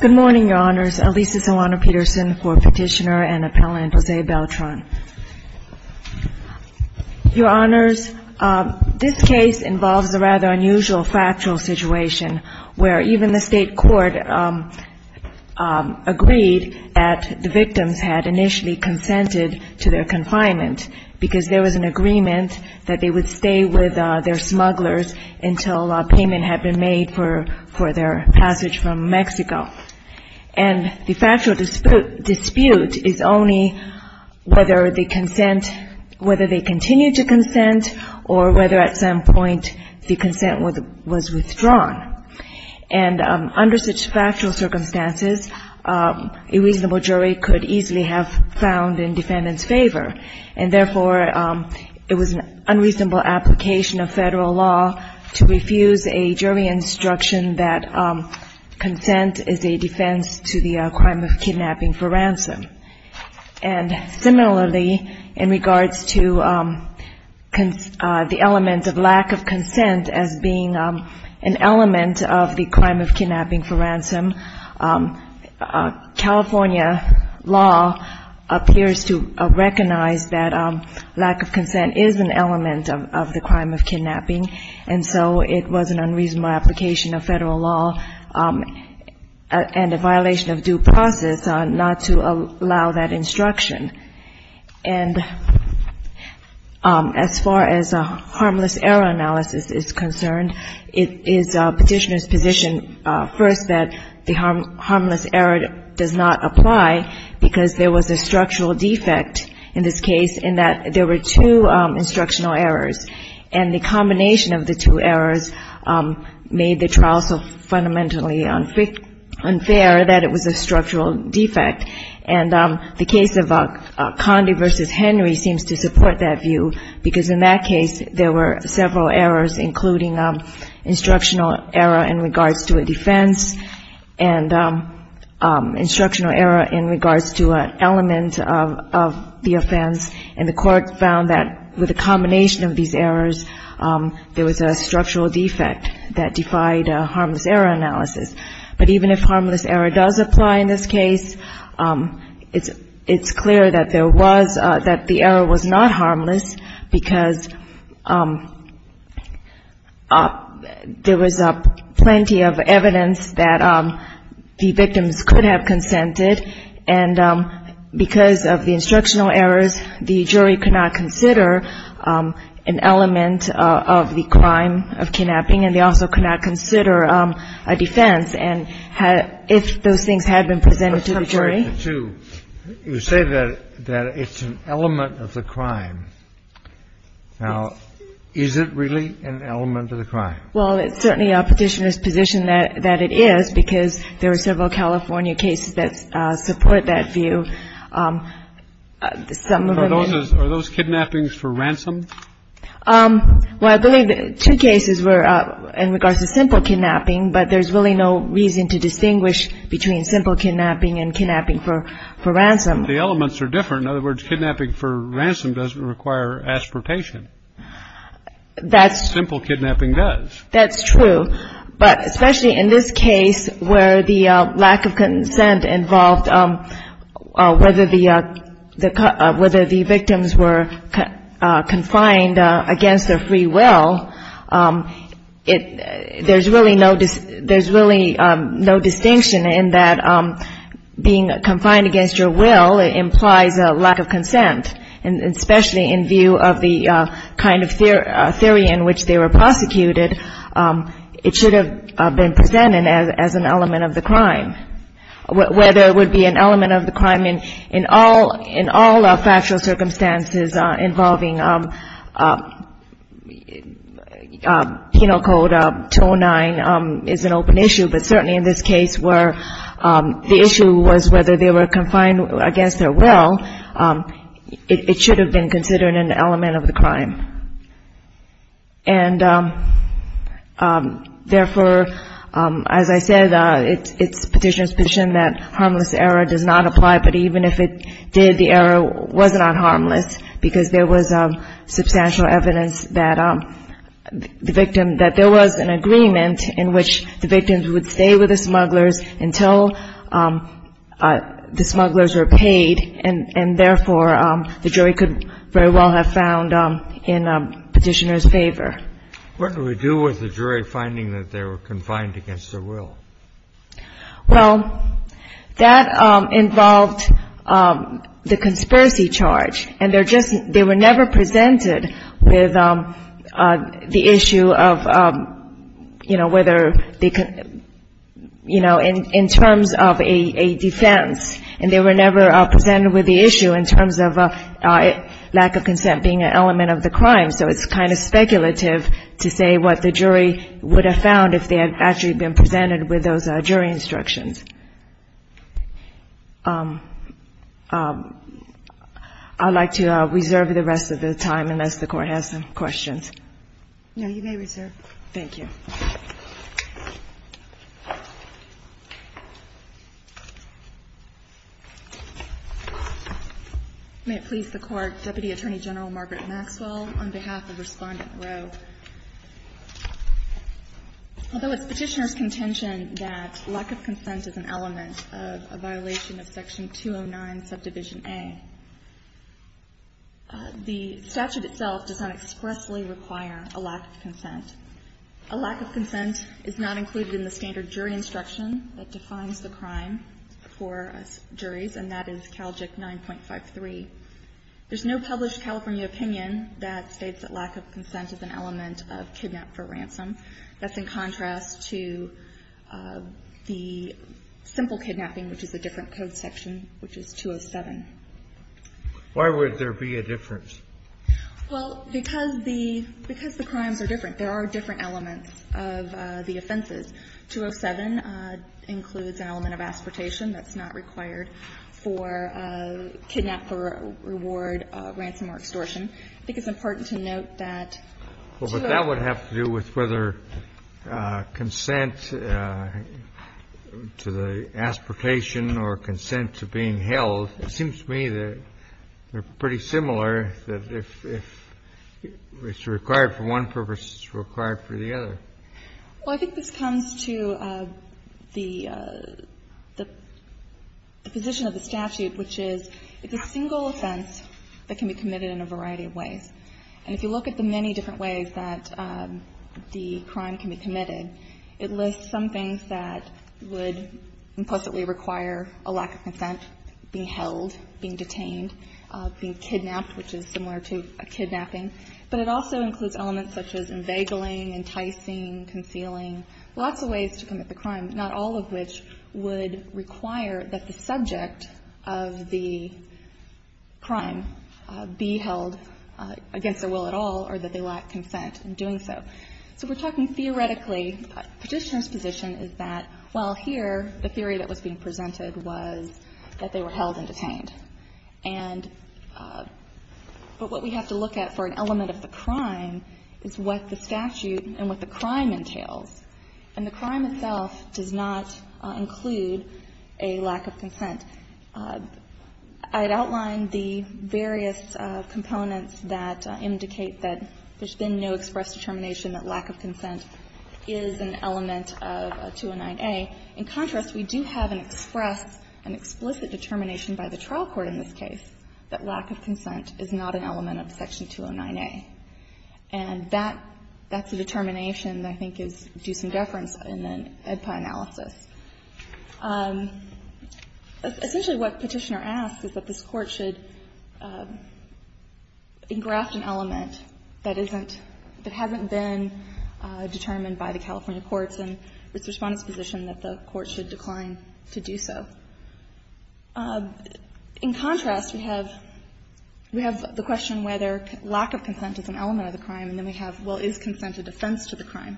Good morning, your honors. This case involves a rather unusual factual situation where even the state court agreed that the victims had initially consented to their confinement because there was an agreement that they would stay with their smugglers until payment had been made for their passage from Mexico. And the factual dispute is only whether they continue to consent or whether at some point the consent was withdrawn. And under such factual circumstances, a reasonable jury could easily have found in defendant's favor. And therefore, it was an unreasonable application of federal law to refuse a jury instruction that consent is a defense to the crime of kidnapping for ransom. And similarly, in regards to the element of lack of consent as being an element of the crime of kidnapping for ransom, California law appears to recognize that lack of consent is an element of the crime of kidnapping. And so it was an unreasonable application of federal law and a violation of due process not to allow that instruction. And as far as harmless error analysis is concerned, it is petitioner's position first that the harmless error does not apply because there was a structural defect in this case in that there were two instructional errors. And the combination of the two errors made the trial so fundamentally unfair that it was a structural defect. And the case of Condi v. Henry seems to support that view because in that case, there were several errors, including instructional error in regards to a defense and instructional error in regards to an element of the offense. And the court found that with a combination of these errors, there was a structural defect that defied harmless error analysis. But even if harmless error does apply in this case, it's clear that there was — that the error was not harmless because there was plenty of evidence that the victims could have consented. And because of the instructional errors, the jury could not consider an element of the crime of kidnapping, and they also could not consider a defense. And had — if those things had been presented to the jury. Kennedy. I'm sorry to say that it's an element of the crime. Now, is it really an element of the crime? Well, it's certainly a Petitioner's position that it is because there were several California cases that support that view. Some of them — Are those kidnappings for ransom? Well, I believe two cases were in regards to simple kidnapping, but there's really no reason to distinguish between simple kidnapping and kidnapping for ransom. The elements are different. In other words, kidnapping for ransom doesn't require aspiration. That's — That's true. But especially in this case where the lack of consent involved whether the — whether the victims were confined against their free will, it — there's really no — there's really no distinction in that being confined against your will implies a lack of consent, and especially in view of the kind of theory in which they were prosecuted, it should have been presented as an element of the crime. Whether it would be an element of the crime in all — in all factual circumstances involving Penal Code 209 is an open issue, but certainly in this case where the issue was whether they were confined against their will, it should have been considered an element of the crime. And therefore, as I said, it's Petitioner's position that harmless error does not apply, but even if it did, the error was not harmless because there was substantial evidence that the victim — that there was an agreement in which the victims would stay with the smugglers until the smugglers were paid, and therefore, the jury could very well have found in Petitioner's favor. What do we do with the jury finding that they were confined against their will? Well, that involved the conspiracy charge, and they're just — they were never presented with the issue of, you know, whether they could — you know, in terms of a defense, and they were never presented with the issue in terms of lack of consent being an element of the crime. So it's kind of speculative to say what the jury would have found if they had actually been presented with those jury instructions. I'd like to reserve the rest of the time unless the Court has some questions. No, you may reserve. Thank you. May it please the Court. Deputy Attorney General Margaret Maxwell on behalf of Respondent Rowe. Although it's Petitioner's contention that lack of consent is an element of a violation of Section 209, Subdivision A, the statute itself does not expressly require a lack of consent. A lack of consent is not included in the standard jury instruction that defines the crime for us juries, and that is CALJIC 9.53. There's no published California opinion that states that lack of consent is an element of kidnap for ransom. That's in contrast to the simple kidnapping, which is a different code section, which is 207. Why would there be a difference? Well, because the crimes are different. There are different elements of the offenses. 207 includes an element of aspirtation that's not required for kidnap for reward ransom or extortion. I think it's important to note that 207. But that would have to do with whether consent to the aspirtation or consent to being held. It seems to me that they're pretty similar, that if it's required for one purpose, it's required for the other. Well, I think this comes to the position of the statute, which is it's a single offense that can be committed in a variety of ways. And if you look at the many different ways that the crime can be committed, it lists some things that would implicitly require a lack of consent, being held, being detained, being kidnapped, which is similar to a kidnapping. But it also includes elements such as inveigling, enticing, concealing, lots of ways to commit the crime, not all of which would require that the subject of the crime be held against their will at all or that they lack consent in doing so. So we're talking theoretically, Petitioner's position is that, well, here, the theory that was being presented was that they were held and detained. And what we have to look at for an element of the crime is what the statute and what the crime entails, and the crime itself does not include a lack of consent. I'd outline the various components that indicate that there's been no express determination that lack of consent is an element of 209A. In contrast, we do have an express, an explicit determination by the trial court in this case that lack of consent is not an element of Section 209A. And that's a determination that I think is due some deference in the EDPI analysis. Essentially, what Petitioner asks is that this Court should engraft an element that isn't, that hasn't been determined by the California courts and its Respondent's position that the Court should decline to do so. In contrast, we have the question whether lack of consent is an element of the crime, and then we have, well, is consent a defense to the crime?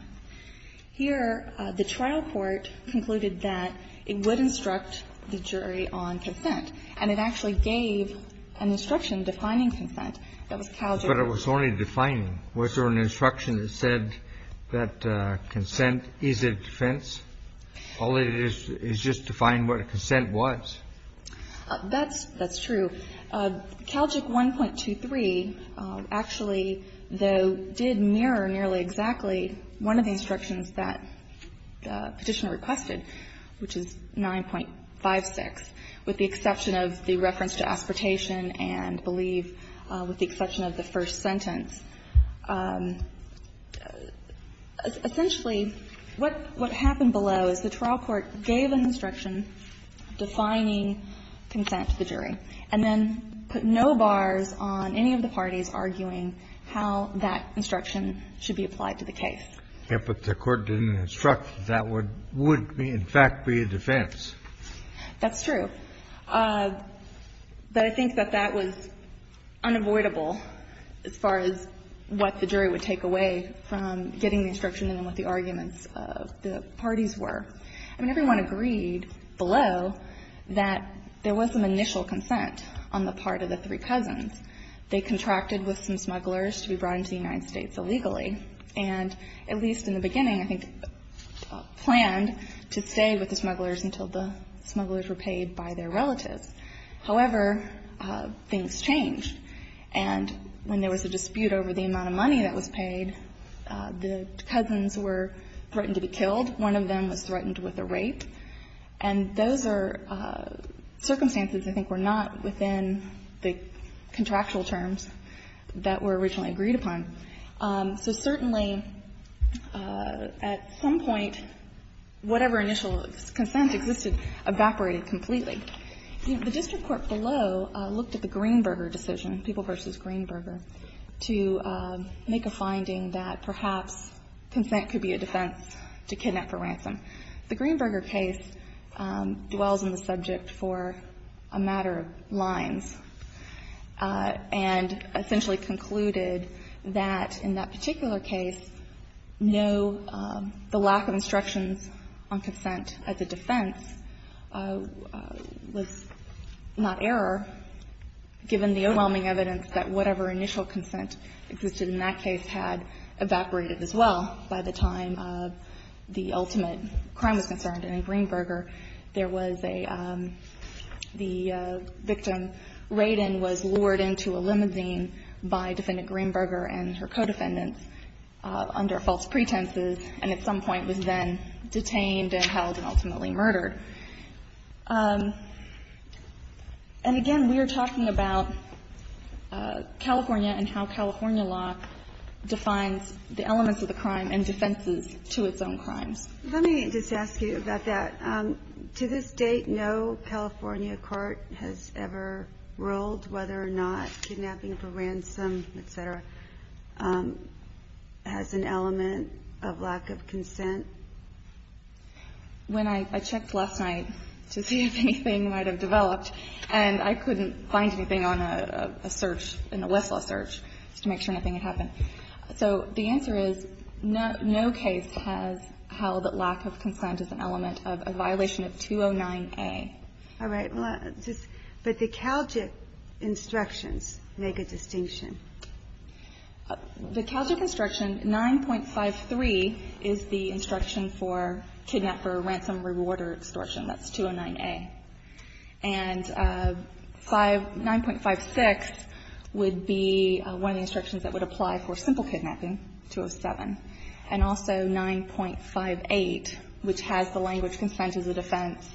Here, the trial court concluded that it would instruct the jury on consent, and it actually gave an instruction defining consent. That was Calgic. But it was only defining. Was there an instruction that said that consent is a defense? All it is, is just define what a consent was. That's true. Calgic 1.23 actually, though, did mirror nearly exactly one of the instructions that Petitioner requested, which is 9.56, with the exception of the reference to aspiratation and, I believe, with the exception of the first sentence. Essentially, what happened below is the trial court gave an instruction defining consent to the jury, and then put no bars on any of the parties arguing how that instruction should be applied to the case. Yes, but the Court didn't instruct that that would in fact be a defense. That's true. But I think that that was unavoidable as far as what the jury would take away from getting the instruction and what the arguments of the parties were. I mean, everyone agreed below that there was some initial consent on the part of the three cousins. They contracted with some smugglers to be brought into the United States illegally, and at least in the beginning, I think, planned to stay with the smugglers until the smugglers were paid by their relatives. However, things changed. And when there was a dispute over the amount of money that was paid, the cousins were threatened to be killed. One of them was threatened with a rape. And those are circumstances I think were not within the contractual terms that were originally agreed upon. So certainly, at some point, whatever initial consent existed evaporated completely. The district court below looked at the Greenberger decision, People v. Greenberger, to make a finding that perhaps consent could be a defense to kidnap for ransom. The Greenberger case dwells on the subject for a matter of lines and essentially concluded that in that particular case, no, the lack of instructions on consent as a defense was not error, given the overwhelming evidence that whatever initial consent existed in that case had evaporated as well by the time of the ultimate crime was concerned. And in Greenberger, there was a – the victim, Raiden, was lured into a limousine by Defendant Greenberger and her co-defendants under false pretenses and at some point was then detained and held and ultimately murdered. And again, we are talking about California and how California law defines the elements of the crime and defenses to its own crimes. Let me just ask you about that. To this date, no California court has ever ruled whether or not kidnapping for ransom, et cetera, has an element of lack of consent. When I checked last night to see if anything might have developed, and I couldn't find anything on a search, in a Westlaw search, just to make sure nothing had happened. So the answer is no case has held that lack of consent is an element of a violation of 209A. All right. But the Caljic instructions make a distinction. The Caljic instruction 9.53 is the instruction for kidnap for ransom reward or extortion. That's 209A. And 5 – 9.56 would be one of the instructions that would apply for simple kidnapping, 207, and also 9.58, which has the language consent as a defense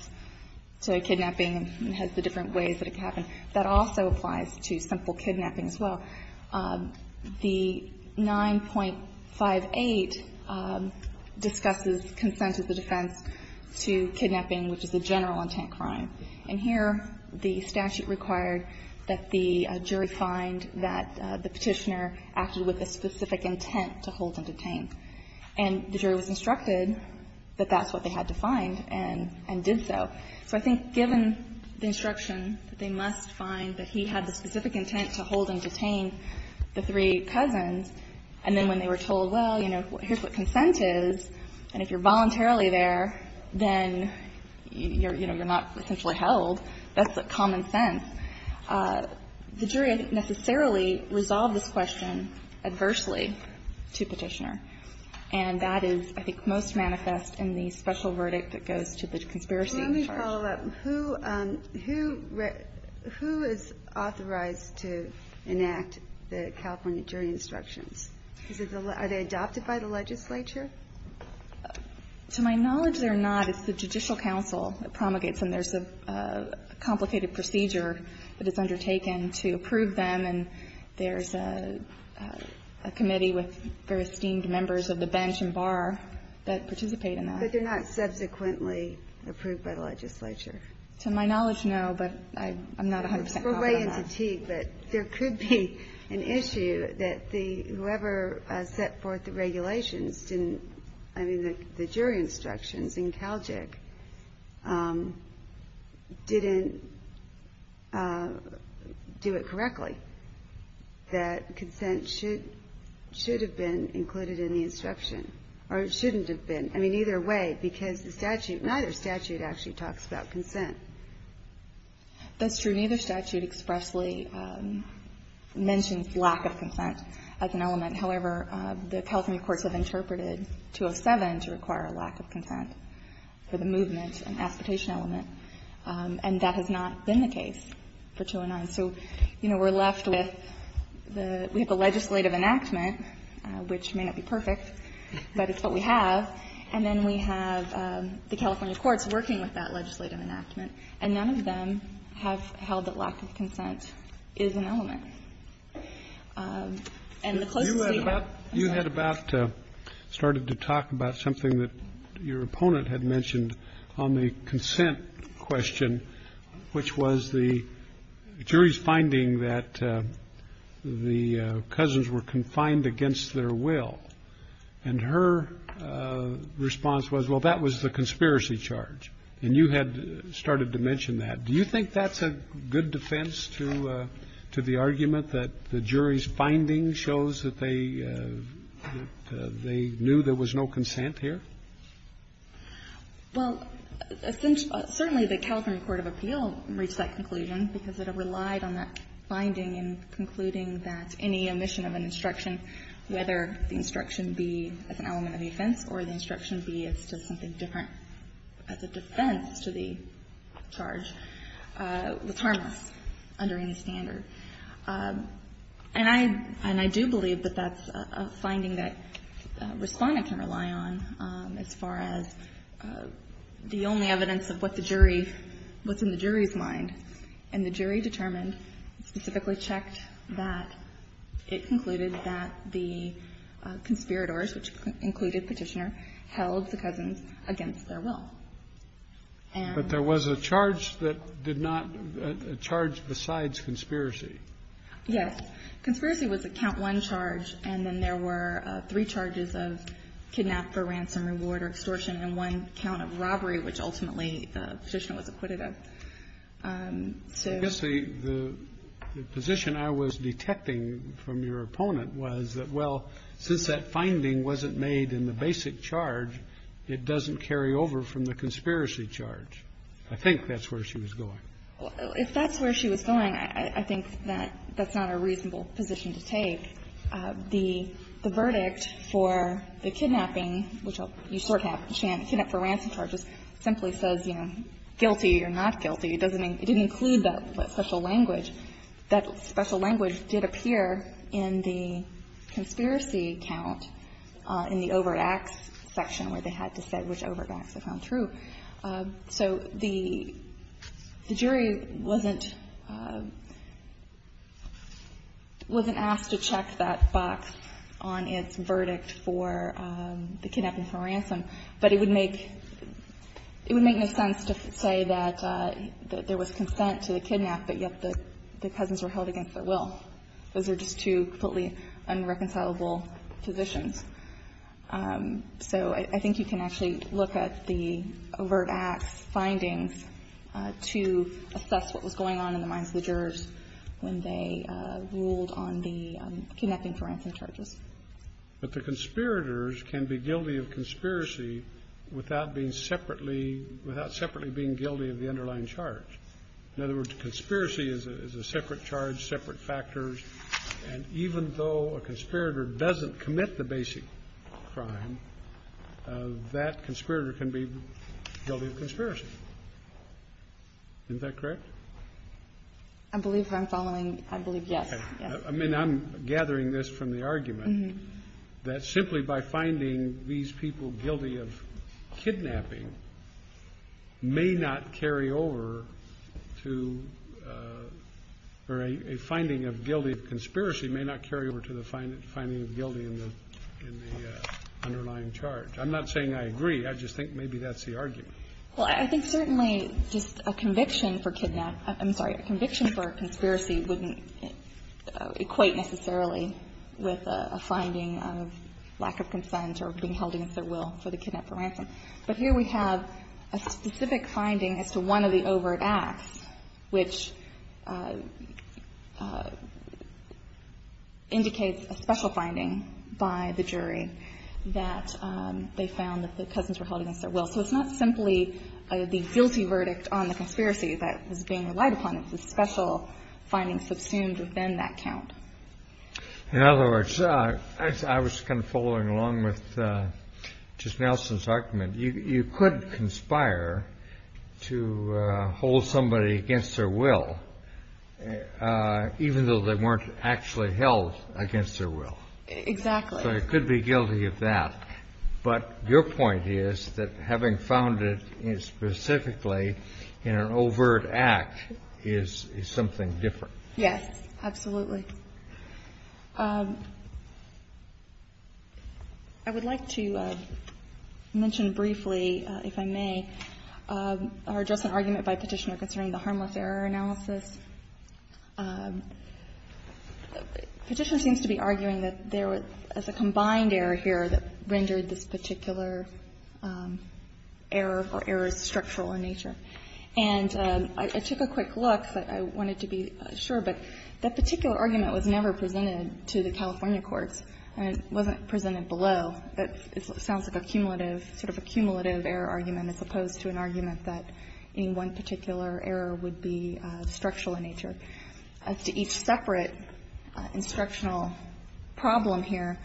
to kidnapping and has the different ways that it can happen. That also applies to simple kidnapping as well. The 9.58 discusses consent as a defense to kidnapping, which is a general-intent crime. And here the statute required that the jury find that the Petitioner acted with a specific intent to hold and detain. And the jury was instructed that that's what they had to find and did so. So I think given the instruction that they must find that he had the specific intent to hold and detain the three cousins, and then when they were told, well, you know, here's what consent is, and if you're voluntarily there, then, you know, you're not essentially held, that's common sense. The jury didn't necessarily resolve this question adversely to Petitioner. And that is, I think, most manifest in the special verdict that goes to the conspiracy party. Let me follow up. Who is authorized to enact the California jury instructions? Are they adopted by the legislature? To my knowledge, they're not. It's the Judicial Council that promulgates them. There's a complicated procedure that is undertaken to approve them, and there's a committee with very esteemed members of the bench and bar that participate in that. But they're not subsequently approved by the legislature. To my knowledge, no, but I'm not 100% confident. We're way into Teague, but there could be an issue that whoever set forth the regulations didn't, I mean, the jury instructions in Calgic didn't do it correctly, that consent should have been included in the instruction, or shouldn't have been. I mean, either way, because the statute, neither statute actually talks about consent. That's true. Neither statute expressly mentions lack of consent as an element. However, the California courts have interpreted 207 to require a lack of consent for the movement and aspitation element, and that has not been the case for 209. So, you know, we're left with the legislative enactment, which may not be perfect, but it's what we have, and then we have the California courts working with that legislative enactment, and none of them have held that lack of consent is an element. And the closest we have... You had about started to talk about something that your opponent had mentioned on the consent question, which was the jury's finding that the cousins were confined against their will, and her response was, well, that was the conspiracy charge. And you had started to mention that. Do you think that's a good defense to the argument that the jury's finding shows that they knew there was no consent here? Well, certainly the California court of appeal reached that conclusion because it relied on that finding in concluding that any omission of an instruction, whether the instruction be as an element of the offense or the instruction be as to something different as a defense to the charge, was harmless under any standard. And I do believe that that's a finding that Responda can rely on as far as the only evidence of what the jury was in the jury's mind. And the jury determined, specifically checked that it concluded that the conspirators, which included Petitioner, held the cousins against their will. And... But there was a charge that did not charge besides conspiracy. Yes. Conspiracy was a count one charge, and then there were three charges of kidnap for ransom charges. And ultimately, Petitioner was acquitted of. I guess the position I was detecting from your opponent was that, well, since that finding wasn't made in the basic charge, it doesn't carry over from the conspiracy charge. I think that's where she was going. If that's where she was going, I think that that's not a reasonable position to take. The verdict for the kidnapping, which you sort of have the kidnap for ransom charges, simply says, you know, guilty or not guilty. It doesn't include that special language. That special language did appear in the conspiracy count in the overt acts section where they had to say which overt acts they found true. So the jury wasn't asked to check that box on its verdict for the kidnapping for ransom, but it would make no sense to say that there was consent to the kidnap, but yet the cousins were held against their will. Those are just two completely unreconcilable positions. So I think you can actually look at the verdict for the kidnapping for ransom, the overt acts findings to assess what was going on in the minds of the jurors when they ruled on the kidnapping for ransom charges. But the conspirators can be guilty of conspiracy without being separately without separately being guilty of the underlying charge. In other words, conspiracy is a separate charge, separate factors. And even though a conspirator doesn't commit the basic crime, that conspirator can be guilty of conspiracy. Isn't that correct? I believe I'm following. I believe yes. I mean, I'm gathering this from the argument that simply by finding these people guilty of kidnapping may not carry over to a finding of guilty of conspiracy may not carry over to the finding of guilty in the underlying charge. I'm not saying I agree. I just think maybe that's the argument. Well, I think certainly just a conviction for kidnap – I'm sorry, a conviction for a conspiracy wouldn't equate necessarily with a finding of lack of consent or being held against their will for the kidnap for ransom. But here we have a specific finding as to one of the overt acts which indicates by the jury that they found that the cousins were held against their will. So it's not simply the guilty verdict on the conspiracy that was being relied upon. It was a special finding subsumed within that count. In other words, I was kind of following along with just Nelson's argument. You could conspire to hold somebody against their will even though they weren't actually held against their will. Exactly. So you could be guilty of that. But your point is that having found it specifically in an overt act is something different. Yes, absolutely. I would like to mention briefly, if I may, or address an argument by Petitioner concerning the harmless error analysis. Petitioner seems to be arguing that there was a combined error here that rendered this particular error for errors structural in nature. And I took a quick look, but I wanted to be sure. But that particular argument was never presented to the California courts, and it wasn't presented below. It sounds like a cumulative, sort of a cumulative error argument as opposed to an argument that any one particular error would be structural in nature. As to each separate instructional problem here,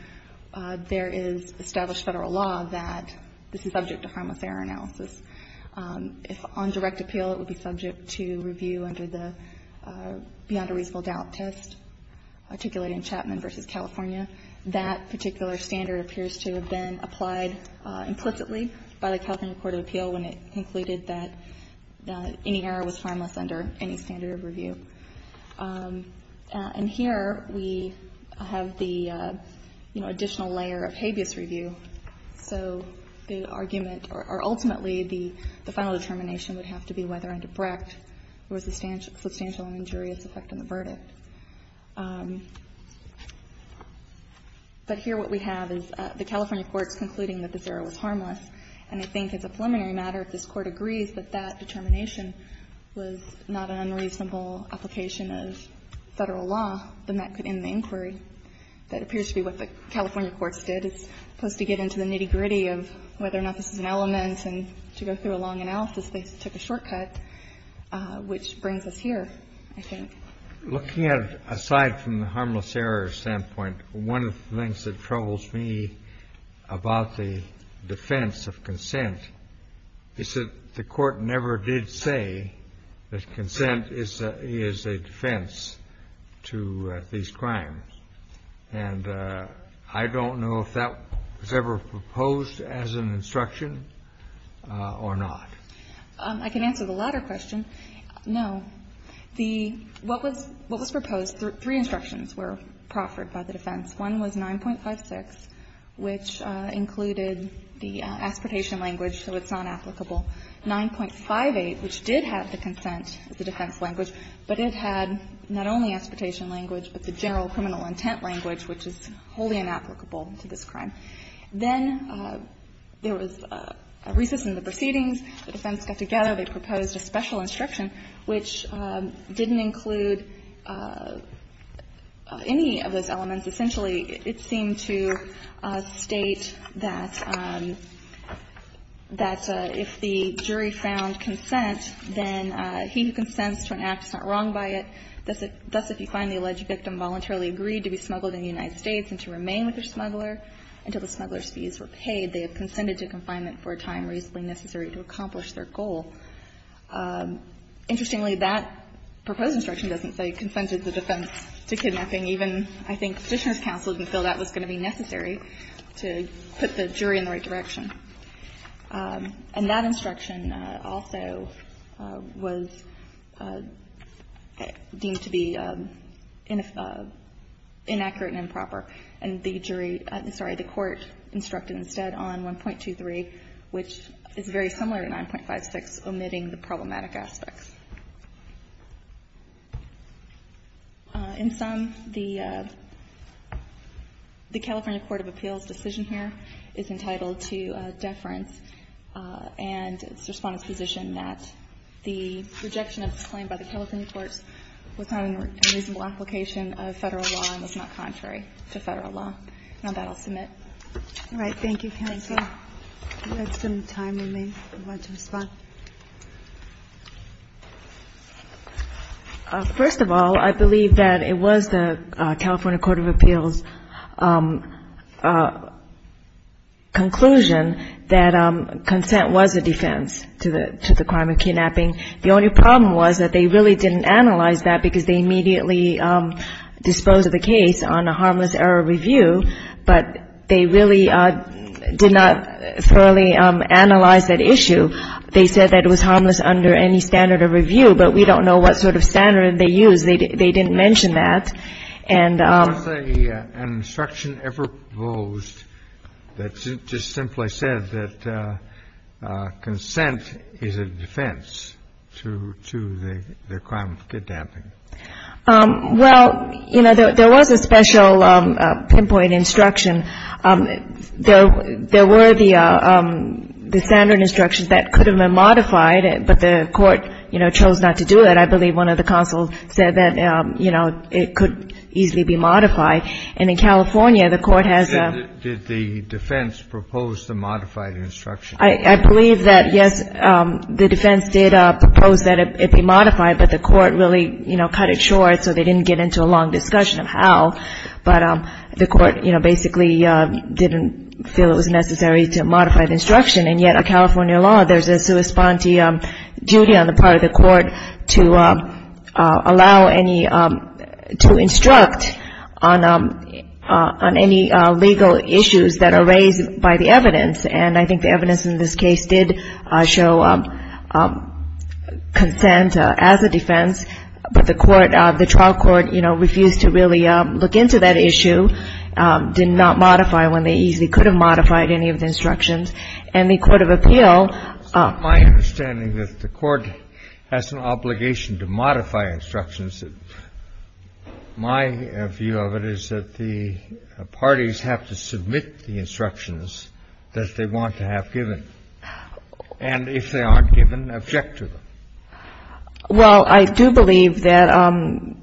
there is established Federal law that this is subject to harmless error analysis. If on direct appeal, it would be subject to review under the beyond a reasonable doubt test, articulated in Chapman v. California. That particular standard appears to have been applied implicitly by the California Court of Appeal when it concluded that any error was harmless under any standard of review. And here we have the, you know, additional layer of habeas review. So the argument or ultimately the final determination would have to be whether under Brecht there was a substantial injurious effect on the verdict. But here what we have is the California courts concluding that this error was harmless, and I think as a preliminary matter, if this Court agrees that that determination was not an unreasonable application of Federal law, then that could end the inquiry. That appears to be what the California courts did. It's supposed to get into the nitty-gritty of whether or not this is an element and to go through a long analysis. They took a shortcut, which brings us here, I think. Kennedy, looking at it aside from the harmless error standpoint, one of the things that troubles me about the defense of consent is that the Court never did say that consent is a defense to these crimes. And I don't know if that was ever proposed as an instruction or not. I can answer the latter question. No. The what was proposed, three instructions were proffered by the defense. One was 9.56, which included the aspiratation language, so it's not applicable. 9.58, which did have the consent as a defense language, but it had not only aspiratation language, but the general criminal intent language, which is wholly inapplicable to this crime. Then there was a recess in the proceedings. The defense got together. They proposed a special instruction, which didn't include any of those elements. Essentially, it seemed to state that if the jury found consent, then he who consents to an act is not wrong by it. Thus, if you find the alleged victim voluntarily agreed to be smuggled in the United States and to remain with the smuggler until the smuggler's fees were paid, they have consented to confinement for a time reasonably necessary to accomplish their goal. Interestingly, that proposed instruction doesn't say consented the defense to kidnapping. Even I think Fisher's counsel didn't feel that was going to be necessary to put the jury in the right direction. And that instruction also was deemed to be inaccurate and improper. And the jury – I'm sorry, the Court instructed instead on 1.23, which is very similar to 9.56, omitting the problematic aspects. In sum, the California Court of Appeals' decision here is entitled to deference and its Respondent's position that the rejection of this claim by the California courts was not an unreasonable application of Federal law and was not contrary to Federal law. And on that, I'll submit. All right. Thank you, counsel. If we have some time, we may want to respond. First of all, I believe that it was the California Court of Appeals' conclusion that consent was a defense to the crime of kidnapping. The only problem was that they really didn't analyze that because they immediately disposed of the case on a harmless error review. But they really did not thoroughly analyze that issue. They said that it was harmless under any standard of review. But we don't know what sort of standard they used. They didn't mention that. And the other thing, was there an instruction ever proposed that just simply said that consent is a defense to the crime of kidnapping? Well, you know, there was a special pinpoint instruction. There were the standard instructions that could have been modified, but the Court, you know, chose not to do that. I believe one of the counsels said that, you know, it could easily be modified. And in California, the Court has a ---- You said that the defense proposed a modified instruction. I believe that, yes, the defense did propose that it be modified, but the Court really, you know, cut it short so they didn't get into a long discussion of how. But the Court, you know, basically didn't feel it was necessary to modify the instruction. And yet, a California law, there's a sui sponte duty on the part of the Court to allow any to instruct on any legal issues that are raised by the evidence. And I think the evidence in this case did show consent as a defense, but the Court, the trial court, you know, refused to really look into that issue, did not modify when they easily could have modified any of the instructions. And the court of appeal ---- It's not my understanding that the Court has an obligation to modify instructions. My view of it is that the parties have to submit the instructions that they want to have given. And if they aren't given, object to them. Well, I do believe that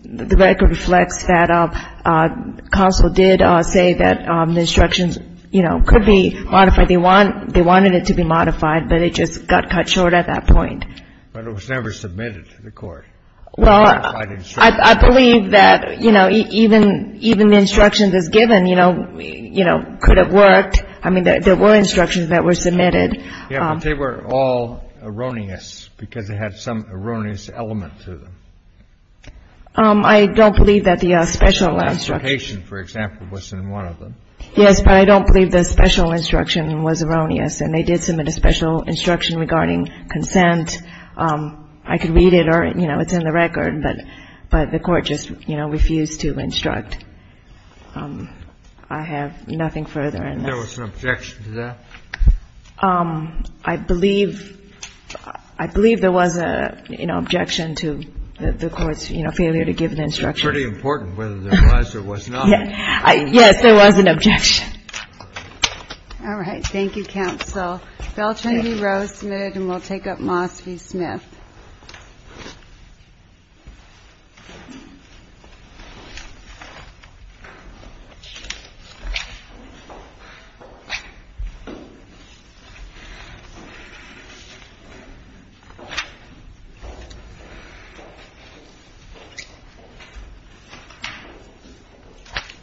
the record reflects that Counsel did say that the instructions, you know, could be modified. They wanted it to be modified, but it just got cut short at that point. But it was never submitted to the Court. Well, I believe that, you know, even the instructions as given, you know, could have worked. I mean, there were instructions that were submitted. Yes, but they were all erroneous because it had some erroneous element to them. I don't believe that the special instruction ---- The last location, for example, was in one of them. Yes, but I don't believe the special instruction was erroneous. And they did submit a special instruction regarding consent. I could read it or, you know, it's in the record. But the Court just, you know, refused to instruct. I have nothing further on this. There was an objection to that? I believe there was an objection to the Court's, you know, failure to give an instruction. It's pretty important whether there was or was not. Yes, there was an objection. All right. Thank you, counsel. The bill will turn to you, Rose Smith, and we'll take up Moss v. Smith.